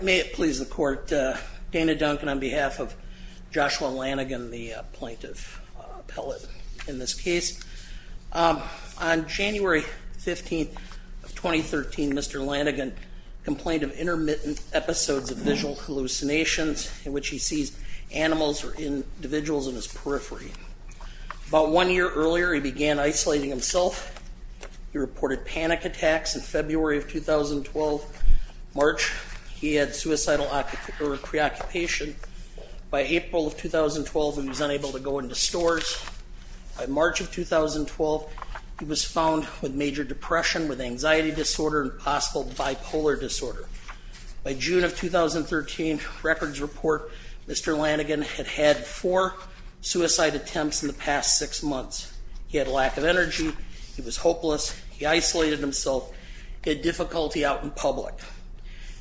May it please the Court, Dana Duncan on behalf of Joshua Lanigan, the plaintiff appellate in this case. On January 15, 2013, Mr. Lanigan complained of intermittent episodes of visual hallucinations in which he sees animals or individuals in his periphery. About one year earlier, he began isolating himself. He reported panic attacks in February of 2012. In March, he had suicidal preoccupation. By April of 2012, he was unable to go into stores. By March of 2012, he was found with major depression, with anxiety disorder and possible bipolar disorder. By June of 2013, records report Mr. Lanigan had had four suicide attempts in the past six months. He had a lack of energy. He was hopeless. He isolated himself. He had difficulty out in public.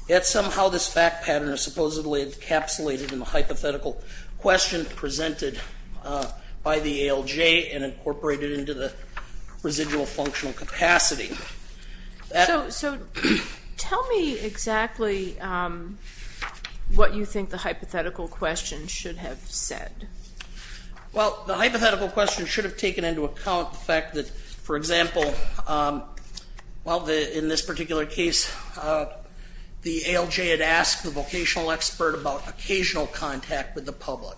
Yet somehow this fact pattern is supposedly encapsulated in the hypothetical question presented by the ALJ and incorporated into the residual functional capacity. So tell me exactly what you think the hypothetical question should have said. Well, the hypothetical question should have taken into account the fact that, for example, well, in this particular case, the ALJ had asked the vocational expert about occasional contact with the public.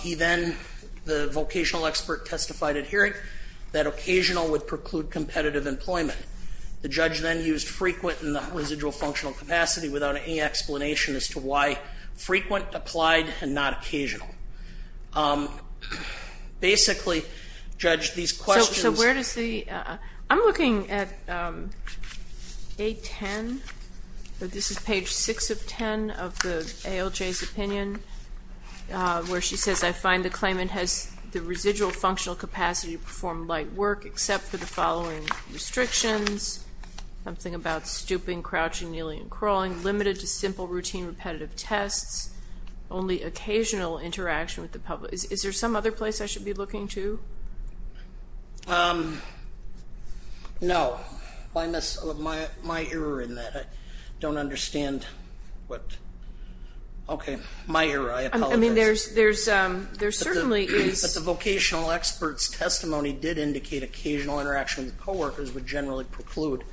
He then, the vocational expert testified at hearing that occasional would preclude competitive employment. The judge then used frequent in the residual functional capacity without any explanation as to why frequent applied and not occasional. Basically, Judge, these questions So where does the, I'm looking at 810, this is page 6 of 10 of the ALJ's opinion, where she says, I find the claimant has the residual functional capacity to perform light work except for the following restrictions, something about stooping, crouching, kneeling and crawling, limited to simple routine repetitive tests, only occasional interaction with the public. Is there some other place I should be looking to? No. My error in that. I don't understand what, okay. My error, I apologize. I mean, there's certainly But the vocational expert's testimony did indicate occasional interaction with co-workers would generally preclude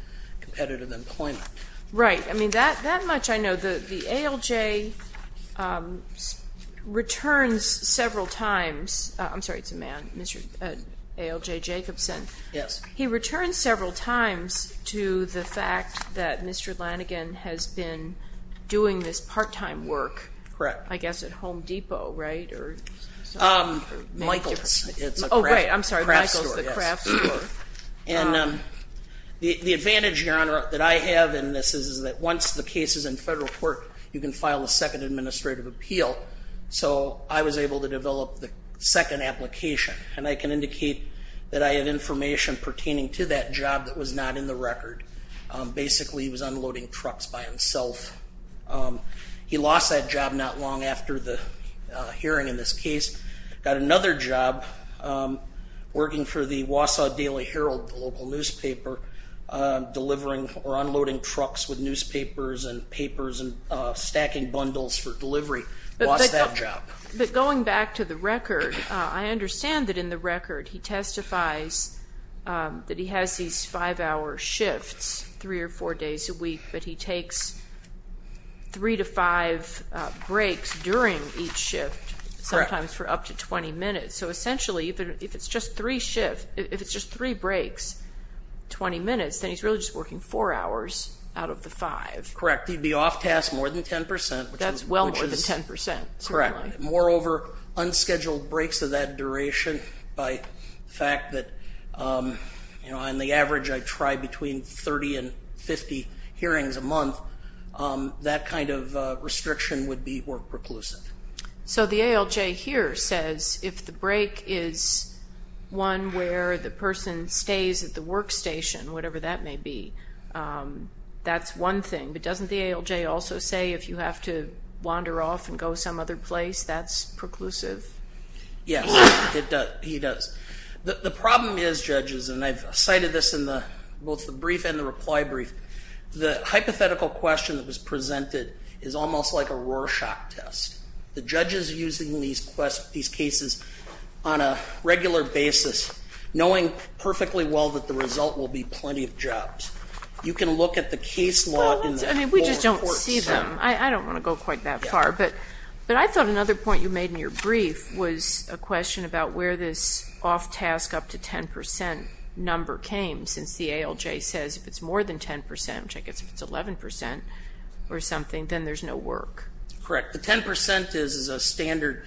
competitive employment. Right. I mean, that much I know. The ALJ returns several times, I'm sorry, it's a man, ALJ Jacobson. Yes. He returns several times to the fact that Mr. Lannigan has been doing this part-time work. Correct. I guess at Home Depot, right? Michael's. Oh, right, I'm sorry, Michael's, the craft store. And the advantage, Your Honor, that I have in this is that once the case is in federal court, you can file a second administrative appeal. So I was able to develop the second application. And I can indicate that I have information pertaining to that job that was not in the record. Basically, he was unloading trucks by himself. He lost that job not long after the hearing in this case. Got another job working for the Wausau Daily Herald, the local newspaper, delivering or unloading trucks with newspapers and papers and stacking bundles for delivery. Lost that job. But going back to the record, I understand that in the record he testifies that he has these five-hour shifts, three or four days a week, but he takes three to five breaks during each shift, sometimes for up to 20 minutes. So essentially, if it's just three shifts, if it's just three breaks, 20 minutes, then he's really just working four hours out of the five. Correct. He'd be off task more than 10 percent. Correct. Moreover, unscheduled breaks of that duration by the fact that, you know, on the average I try between 30 and 50 hearings a month, that kind of restriction would be more preclusive. So the ALJ here says if the break is one where the person stays at the workstation, whatever that may be, that's one thing. But doesn't the ALJ also say if you have to wander off and go some other place, that's preclusive? Yes. It does. He does. The problem is, judges, and I've cited this in both the brief and the reply brief, the hypothetical question that was presented is almost like a Rorschach test. The judge is using these cases on a regular basis, knowing perfectly well that the result will be plenty of jobs. You can look at the case log. I mean, we just don't see them. I don't want to go quite that far. But I thought another point you made in your brief was a question about where this off task up to 10 percent number came, since the ALJ says if it's more than 10 percent, which I guess if it's 11 percent or something, then there's no work. Correct. The 10 percent is a standard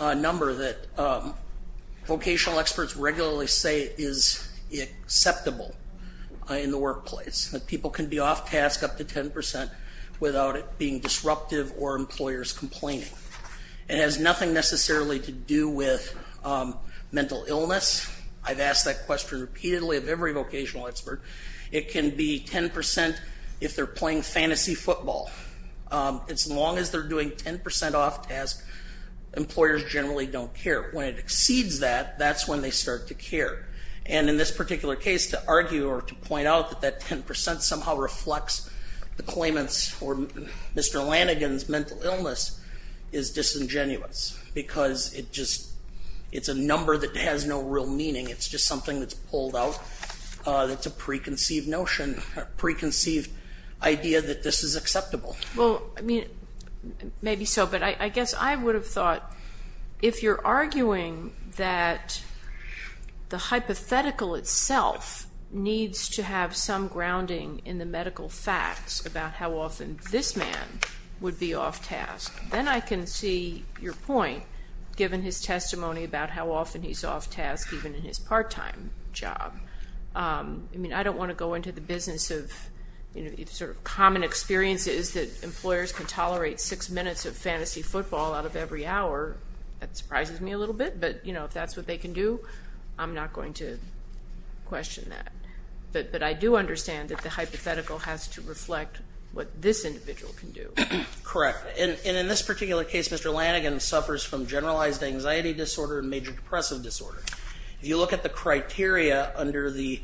number that vocational experts regularly say is acceptable in the workplace, that people can be off task up to 10 percent without it being disruptive or employers complaining. It has nothing necessarily to do with mental illness. I've asked that question repeatedly of every vocational expert. It can be 10 percent if they're playing fantasy football. As long as they're doing 10 percent off task, employers generally don't care. When it exceeds that, that's when they start to care. And in this particular case, to argue or to point out that that 10 percent somehow reflects the claimants or Mr. Lanigan's mental illness is disingenuous because it's a number that has no real meaning. It's just something that's pulled out. It's a preconceived notion, preconceived idea that this is acceptable. Maybe so, but I guess I would have thought if you're arguing that the hypothetical itself needs to have some grounding in the medical facts about how often this man would be off task, then I can see your point, given his testimony about how often he's off task even in his part-time job. I mean, I don't want to go into the business of, you know, sort of common experiences that employers can tolerate six minutes of fantasy football out of every hour. That surprises me a little bit, but, you know, if that's what they can do, I'm not going to question that. But I do understand that the hypothetical has to reflect what this individual can do. Correct. And in this particular case, Mr. Lanigan suffers from generalized anxiety disorder and major depressive disorder. If you look at the criteria under the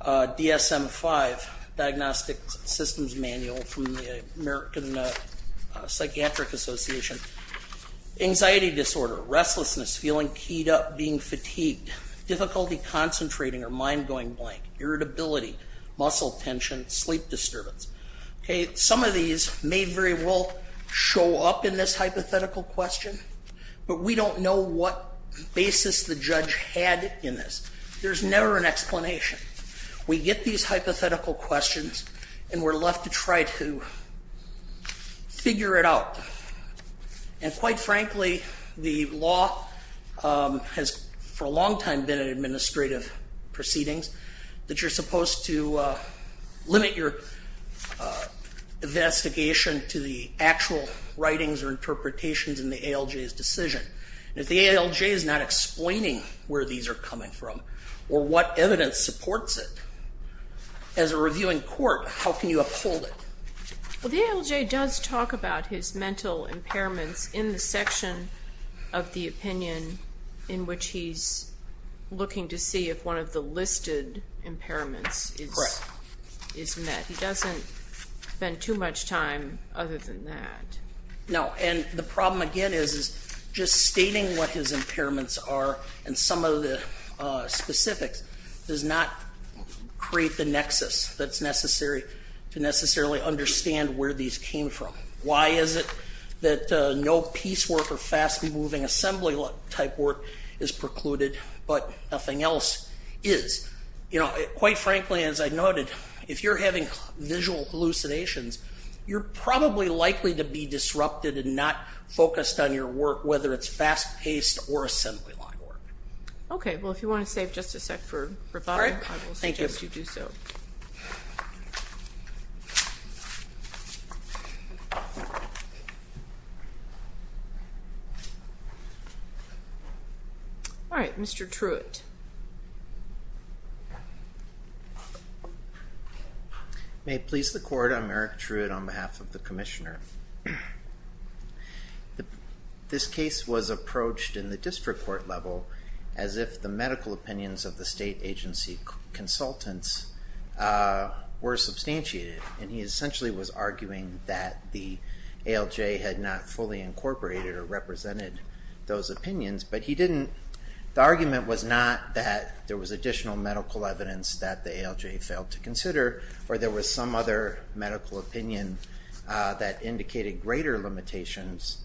DSM-5 Diagnostic Systems Manual from the American Psychiatric Association, anxiety disorder, restlessness, feeling keyed up, being fatigued, difficulty concentrating or mind going blank, irritability, muscle tension, sleep disturbance. Some of these may very well show up in this hypothetical question, but we don't know what basis the judge had in this. There's never an explanation. We get these hypothetical questions and we're left to try to figure it out. And quite frankly, the law has for a long time been an administrative proceedings that you're supposed to limit your investigation to the actual writings or interpretations in the ALJ's decision. And if the ALJ is not explaining where these are coming from or what evidence supports it, as a reviewing court, how can you uphold it? Well, the ALJ does talk about his mental impairments in the section of the opinion in which he's looking to see if one of the listed impairments is met. He doesn't spend too much time other than that. No, and the problem again is just stating what his impairments are and some of the specifics does not create the nexus that's necessary to necessarily understand where these came from. Why is it that no piecework or fast-moving assembly-type work is precluded but nothing else is? Quite frankly, as I noted, if you're having visual hallucinations, you're probably likely to be disrupted and not focused on your work, whether it's fast-paced or assembly-line work. Okay, well, if you want to save just a sec for rebuttal, I will suggest you do so. All right, Mr. Truitt. May it please the Court, I'm Eric Truitt on behalf of the Commissioner. This case was approached in the district court level as if the medical opinions of the state agency consultants were substantiated, and he essentially was arguing that the ALJ had not fully incorporated or represented those opinions, but the argument was not that there was additional medical evidence that the ALJ failed to consider or there was some other medical opinion that indicated greater limitations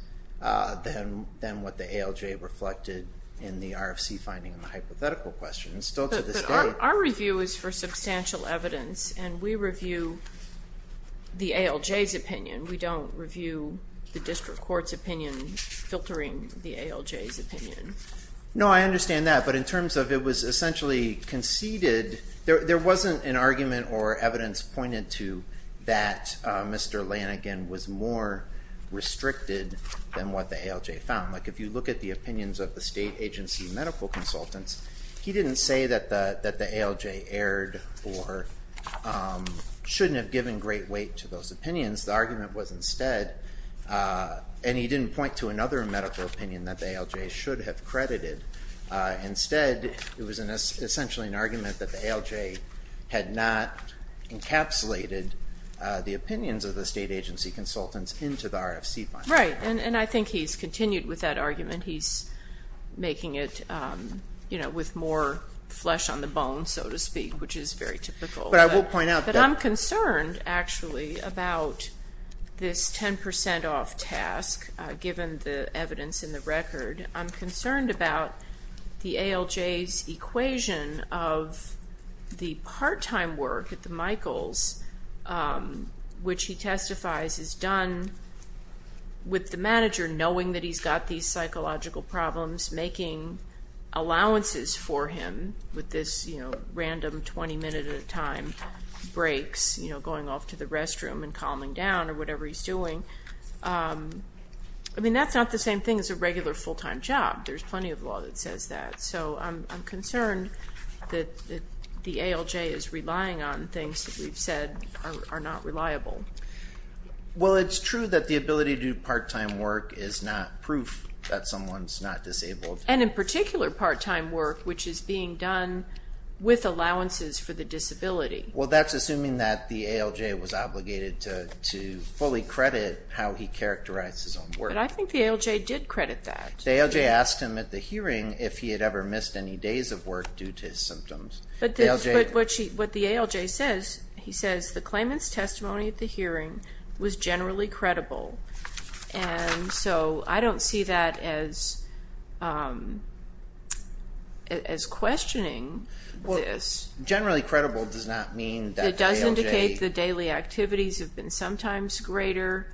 than what the ALJ reflected in the RFC finding and the hypothetical questions still to this day. But our review is for substantial evidence, and we review the ALJ's opinion. We don't review the district court's opinion, filtering the ALJ's opinion. No, I understand that, but in terms of it was essentially conceded, there wasn't an argument or evidence pointed to that Mr. Lanigan was more restricted than what the ALJ found. Like, if you look at the opinions of the state agency medical consultants, he didn't say that the ALJ erred or shouldn't have given great weight to those opinions. The argument was instead, and he didn't point to another medical opinion that the ALJ should have credited. Instead, it was essentially an argument that the ALJ had not encapsulated the opinions of the state agency consultants into the RFC finding. Right, and I think he's continued with that argument. He's making it, you know, with more flesh on the bone, so to speak, which is very typical. But I will point out that I'm concerned, actually, about this 10% off task, given the evidence in the record. I'm concerned about the ALJ's equation of the part-time work at the Michaels, which he testifies is done with the manager knowing that he's got these psychological problems, making allowances for him with this, you know, random 20-minute-at-a-time breaks, you know, going off to the restroom and calming down or whatever he's doing. I mean, that's not the same thing as a regular full-time job. There's plenty of law that says that. So I'm concerned that the ALJ is relying on things that we've said are not reliable. Well, it's true that the ability to do part-time work is not proof that someone's not disabled. And in particular, part-time work, which is being done with allowances for the disability. Well, that's assuming that the ALJ was obligated to fully credit how he characterized his own work. But I think the ALJ did credit that. The ALJ asked him at the hearing if he had ever missed any days of work due to his symptoms. But what the ALJ says, he says the claimant's testimony at the hearing was generally credible. And so I don't see that as questioning this. Generally credible does not mean that the ALJ... It does indicate the daily activities have been sometimes greater.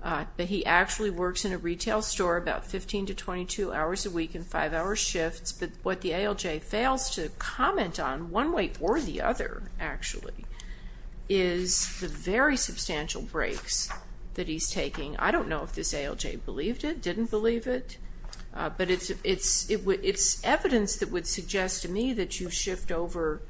But he actually works in a retail store about 15 to 22 hours a week in five-hour shifts. But what the ALJ fails to comment on, one way or the other, actually, is the very substantial breaks that he's taking. I don't know if this ALJ believed it, didn't believe it. But it's evidence that would suggest to me that you shift over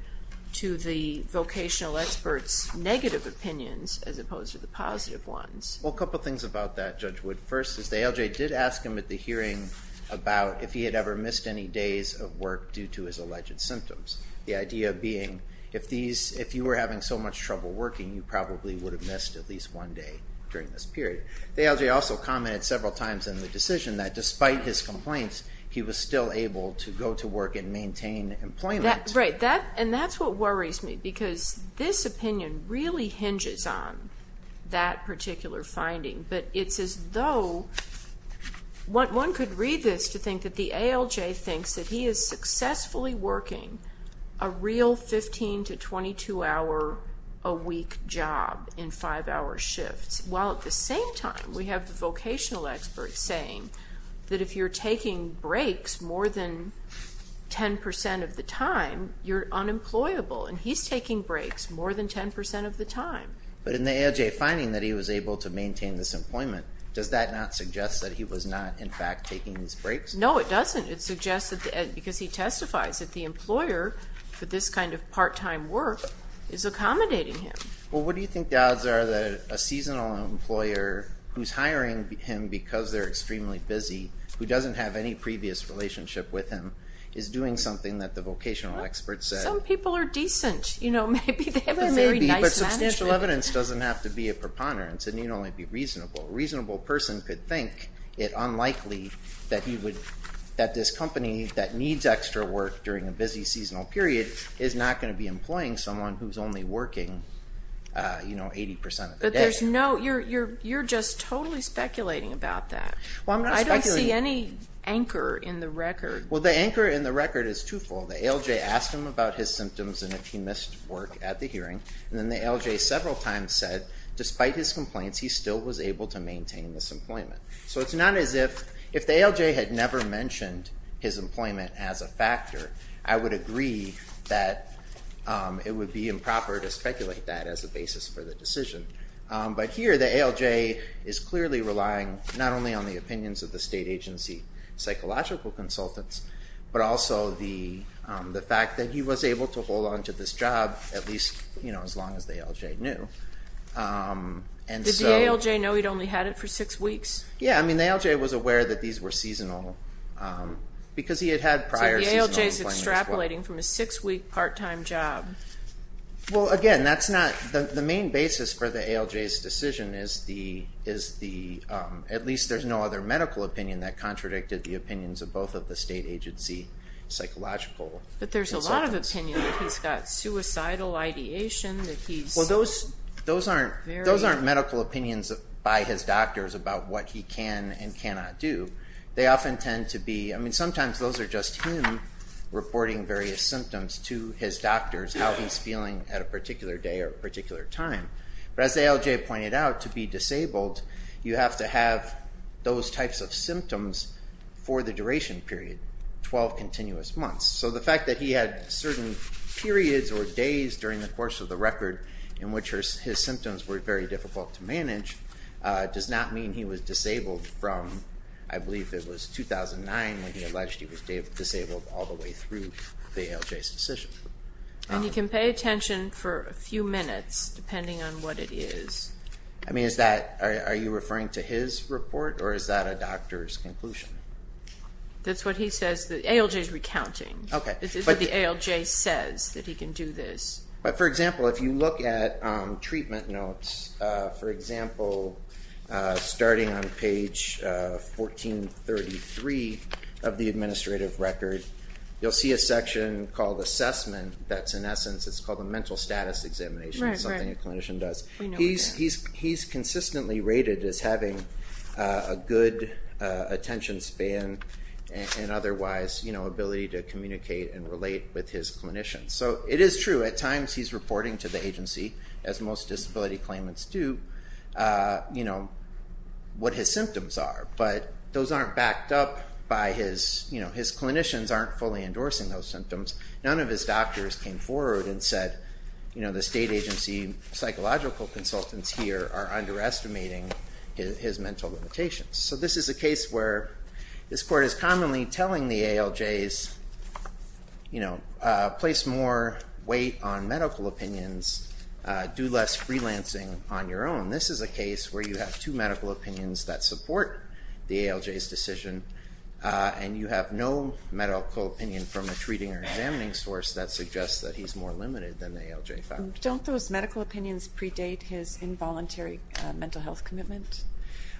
to the vocational expert's negative opinions as opposed to the positive ones. Well, a couple things about that, Judge Wood. First is the ALJ did ask him at the hearing about if he had ever missed any days of work due to his alleged symptoms. The idea being if you were having so much trouble working, you probably would have missed at least one day during this period. The ALJ also commented several times in the decision that despite his complaints, he was still able to go to work and maintain employment. Right. And that's what worries me because this opinion really hinges on that particular finding. But it's as though one could read this to think that the ALJ thinks that he is successfully working a real 15 to 22-hour-a-week job in five-hour shifts while at the same time we have the vocational expert saying that if you're taking breaks more than 10% of the time, you're unemployable, and he's taking breaks more than 10% of the time. But in the ALJ finding that he was able to maintain this employment, does that not suggest that he was not, in fact, taking these breaks? No, it doesn't. It suggests that because he testifies that the employer for this kind of part-time work is accommodating him. Well, what do you think the odds are that a seasonal employer who's hiring him because they're extremely busy, who doesn't have any previous relationship with him, is doing something that the vocational expert said? Some people are decent. Maybe they have a very nice management. But substantial evidence doesn't have to be a preponderance. It need only be reasonable. A reasonable person could think it unlikely that this company that needs extra work during a busy seasonal period is not going to be employing someone who's only working, you know, 80% of the day. But there's no, you're just totally speculating about that. Well, I'm not speculating. I don't see any anchor in the record. Well, the anchor in the record is twofold. The ALJ asked him about his symptoms and if he missed work at the hearing, and then the ALJ several times said, despite his complaints, he still was able to maintain this employment. So it's not as if the ALJ had never mentioned his employment as a factor, I would agree that it would be improper to speculate that as a basis for the decision. But here the ALJ is clearly relying not only on the opinions of the state agency psychological consultants, but also the fact that he was able to hold on to this job at least, you know, as long as the ALJ knew. Did the ALJ know he'd only had it for six weeks? Yeah, I mean, the ALJ was aware that these were seasonal because he had had prior seasonal employment as well. So the ALJ is extrapolating from a six-week part-time job. Well, again, that's not, the main basis for the ALJ's decision is the, at least there's no other medical opinion that contradicted the opinions of both of the state agency psychological consultants. But there's a lot of opinion that he's got suicidal ideation, that he's Well, those aren't medical opinions by his doctors about what he can and cannot do. They often tend to be, I mean, sometimes those are just him reporting various symptoms to his doctors, how he's feeling at a particular day or a particular time. But as the ALJ pointed out, to be disabled, you have to have those types of symptoms for the duration period, 12 continuous months. So the fact that he had certain periods or days during the course of the record in which his symptoms were very difficult to manage, does not mean he was disabled from, I believe it was 2009 when he alleged he was disabled, all the way through the ALJ's decision. And you can pay attention for a few minutes, depending on what it is. I mean, is that, are you referring to his report or is that a doctor's conclusion? That's what he says, the ALJ's recounting. It's what the ALJ says, that he can do this. But for example, if you look at treatment notes, for example, starting on page 1433 of the administrative record, you'll see a section called assessment that's in essence, it's called a mental status examination, something a clinician does. He's consistently rated as having a good attention span and otherwise ability to communicate and relate with his clinicians. So it is true, at times he's reporting to the agency, as most disability claimants do, what his symptoms are. But those aren't backed up by his, his clinicians aren't fully endorsing those symptoms. None of his doctors came forward and said, you know, the state agency psychological consultants here are underestimating his mental limitations. So this is a case where this court is commonly telling the ALJs, you know, place more weight on medical opinions, do less freelancing on your own. This is a case where you have two medical opinions that support the ALJ's decision, and you have no medical opinion from a treating or examining source that suggests that he's more limited than the ALJ found. Don't those medical opinions predate his involuntary mental health commitment?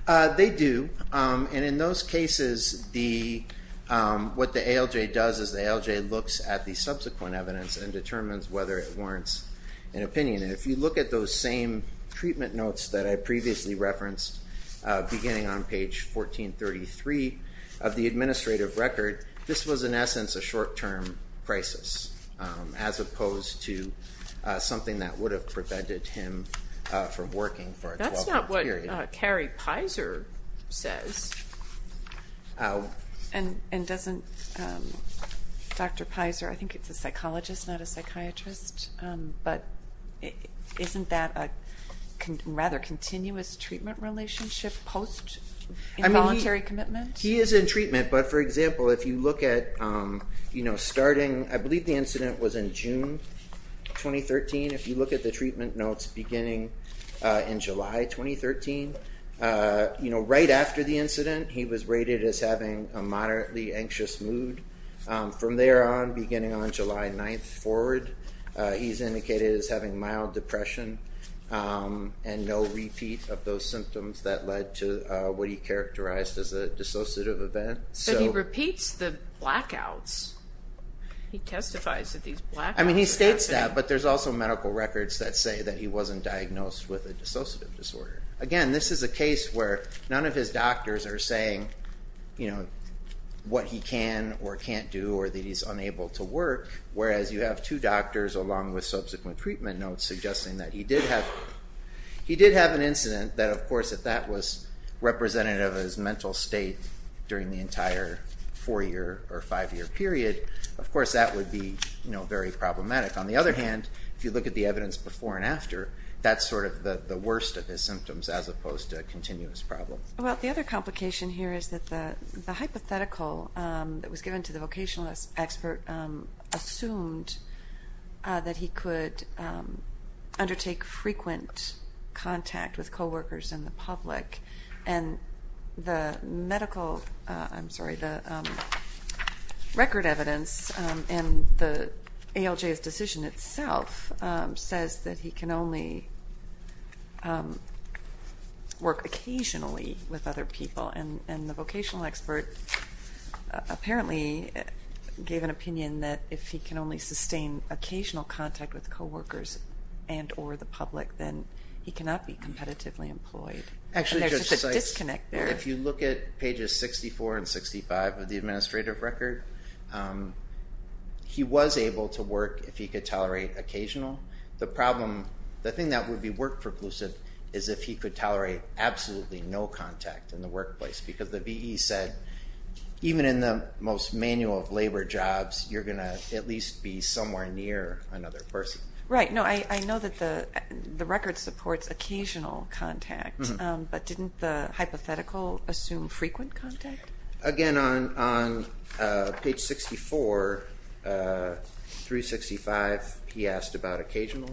They do. And in those cases, what the ALJ does is the ALJ looks at the subsequent evidence and determines whether it warrants an opinion. And if you look at those same treatment notes that I previously referenced, beginning on page 1433 of the administrative record, this was, in essence, a short-term crisis, as opposed to something that would have prevented him from working for a 12-month period. That's not what Carrie Pizer says. And doesn't Dr. Pizer, I think it's a psychologist, not a psychiatrist, but isn't that a rather continuous treatment relationship post-involuntary commitment? He is in treatment, but, for example, if you look at starting, I believe the incident was in June 2013. If you look at the treatment notes beginning in July 2013, right after the incident, he was rated as having a moderately anxious mood. From there on, beginning on July 9th forward, he's indicated as having mild depression and no repeat of those symptoms that led to what he characterized as a dissociative event. So he repeats the blackouts. He testifies that these blackouts occur. I mean, he states that, but there's also medical records that say that he wasn't diagnosed with a dissociative disorder. Again, this is a case where none of his doctors are saying what he can or can't do or that he's unable to work, whereas you have two doctors along with subsequent treatment notes suggesting that he did have an incident that, of course, if that was representative of his mental state during the entire four-year or five-year period, of course that would be very problematic. On the other hand, if you look at the evidence before and after, that's sort of the worst of his symptoms as opposed to continuous problems. Well, the other complication here is that the hypothetical that was given to the vocational expert assumed that he could undertake frequent contact with coworkers and the public, and the record evidence in the ALJ's decision itself says that he can only work occasionally with other people, and the vocational expert apparently gave an opinion that if he can only sustain occasional contact with coworkers and or the public, then he cannot be competitively employed. Actually, Judge Seitz, if you look at pages 64 and 65 of the administrative record, he was able to work if he could tolerate occasional. The thing that would be work-preclusive is if he could tolerate absolutely no contact in the workplace because the VE said even in the most manual of labor jobs, you're going to at least be somewhere near another person. Right. No, I know that the record supports occasional contact, but didn't the hypothetical assume frequent contact? Again, on page 64 through 65, he asked about occasional,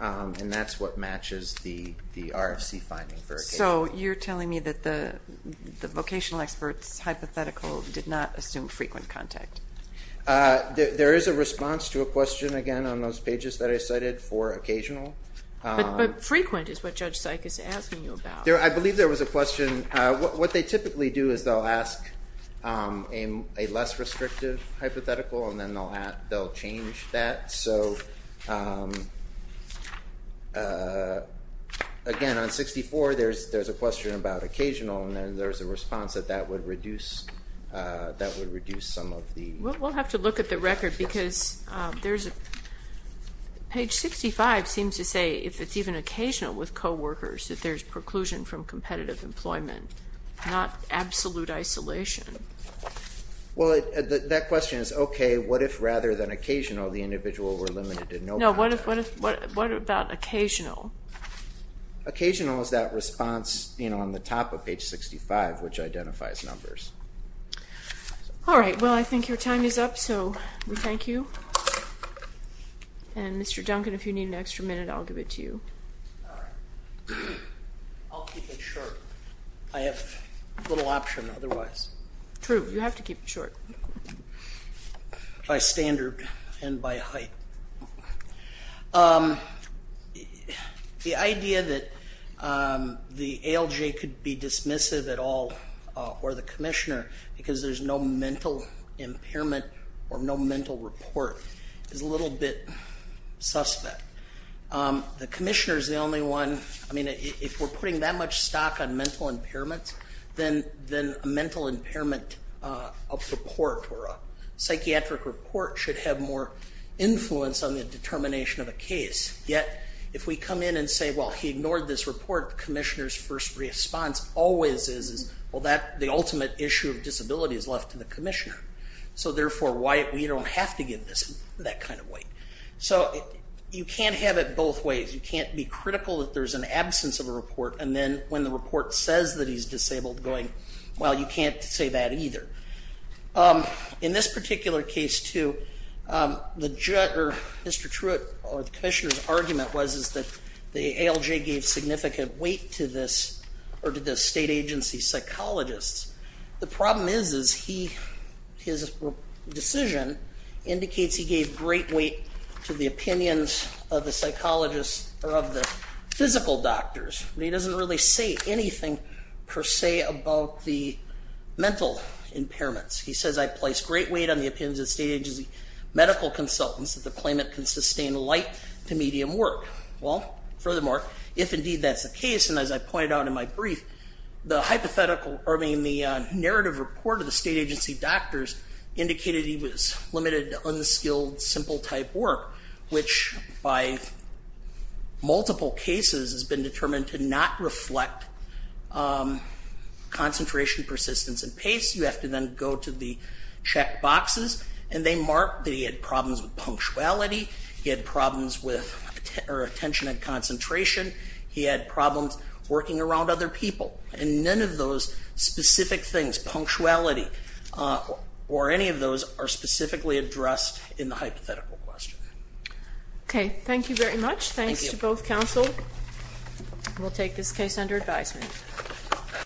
and that's what matches the RFC finding for occasional. So you're telling me that the vocational expert's hypothetical did not assume frequent contact? There is a response to a question, again, on those pages that I cited for occasional. But frequent is what Judge Seitz is asking you about. I believe there was a question. What they typically do is they'll ask a less restrictive hypothetical, and then they'll change that. So, again, on 64, there's a question about occasional, and there's a response that that would reduce some of the- We'll have to look at the record because there's a-page 65 seems to say if it's even occasional with coworkers, that there's preclusion from competitive employment, not absolute isolation. Well, that question is, okay, what if rather than occasional, the individual were limited to no contact? No, what about occasional? Occasional is that response on the top of page 65, which identifies numbers. All right. Well, I think your time is up, so we thank you. And, Mr. Duncan, if you need an extra minute, I'll give it to you. All right. I'll keep it short. I have little option otherwise. True. You have to keep it short. By standard and by height. The idea that the ALJ could be dismissive at all or the commissioner because there's no mental impairment or no mental report is a little bit suspect. The commissioner is the only one-I mean, if we're putting that much stock on mental impairments, then a mental impairment report or a psychiatric report should have more influence on the determination of a case. Yet, if we come in and say, well, he ignored this report, the commissioner's first response always is, well, the ultimate issue of disability is left to the commissioner. So, therefore, we don't have to give this that kind of weight. So, you can't have it both ways. You can't be critical that there's an absence of a report, and then when the report says that he's disabled going, well, you can't say that either. In this particular case, too, Mr. Truitt or the commissioner's argument was that the ALJ gave significant weight to this or to the state agency psychologists. The problem is his decision indicates he gave great weight to the opinions of the psychologists or of the physical doctors. He doesn't really say anything per se about the mental impairments. He says, I place great weight on the opinions of state agency medical consultants that the claimant can sustain light to medium work. Well, furthermore, if indeed that's the case, and as I pointed out in my brief, the hypothetical, I mean, the narrative report of the state agency doctors indicated he was limited to unskilled, simple type work, which by multiple cases has been determined to not reflect concentration, persistence, and pace. You have to then go to the check boxes, and they mark that he had problems with punctuality. He had problems with attention and concentration. He had problems working around other people. And none of those specific things, punctuality or any of those, are specifically addressed in the hypothetical question. Okay. Thank you very much. Thanks to both counsel. We'll take this case under advisement.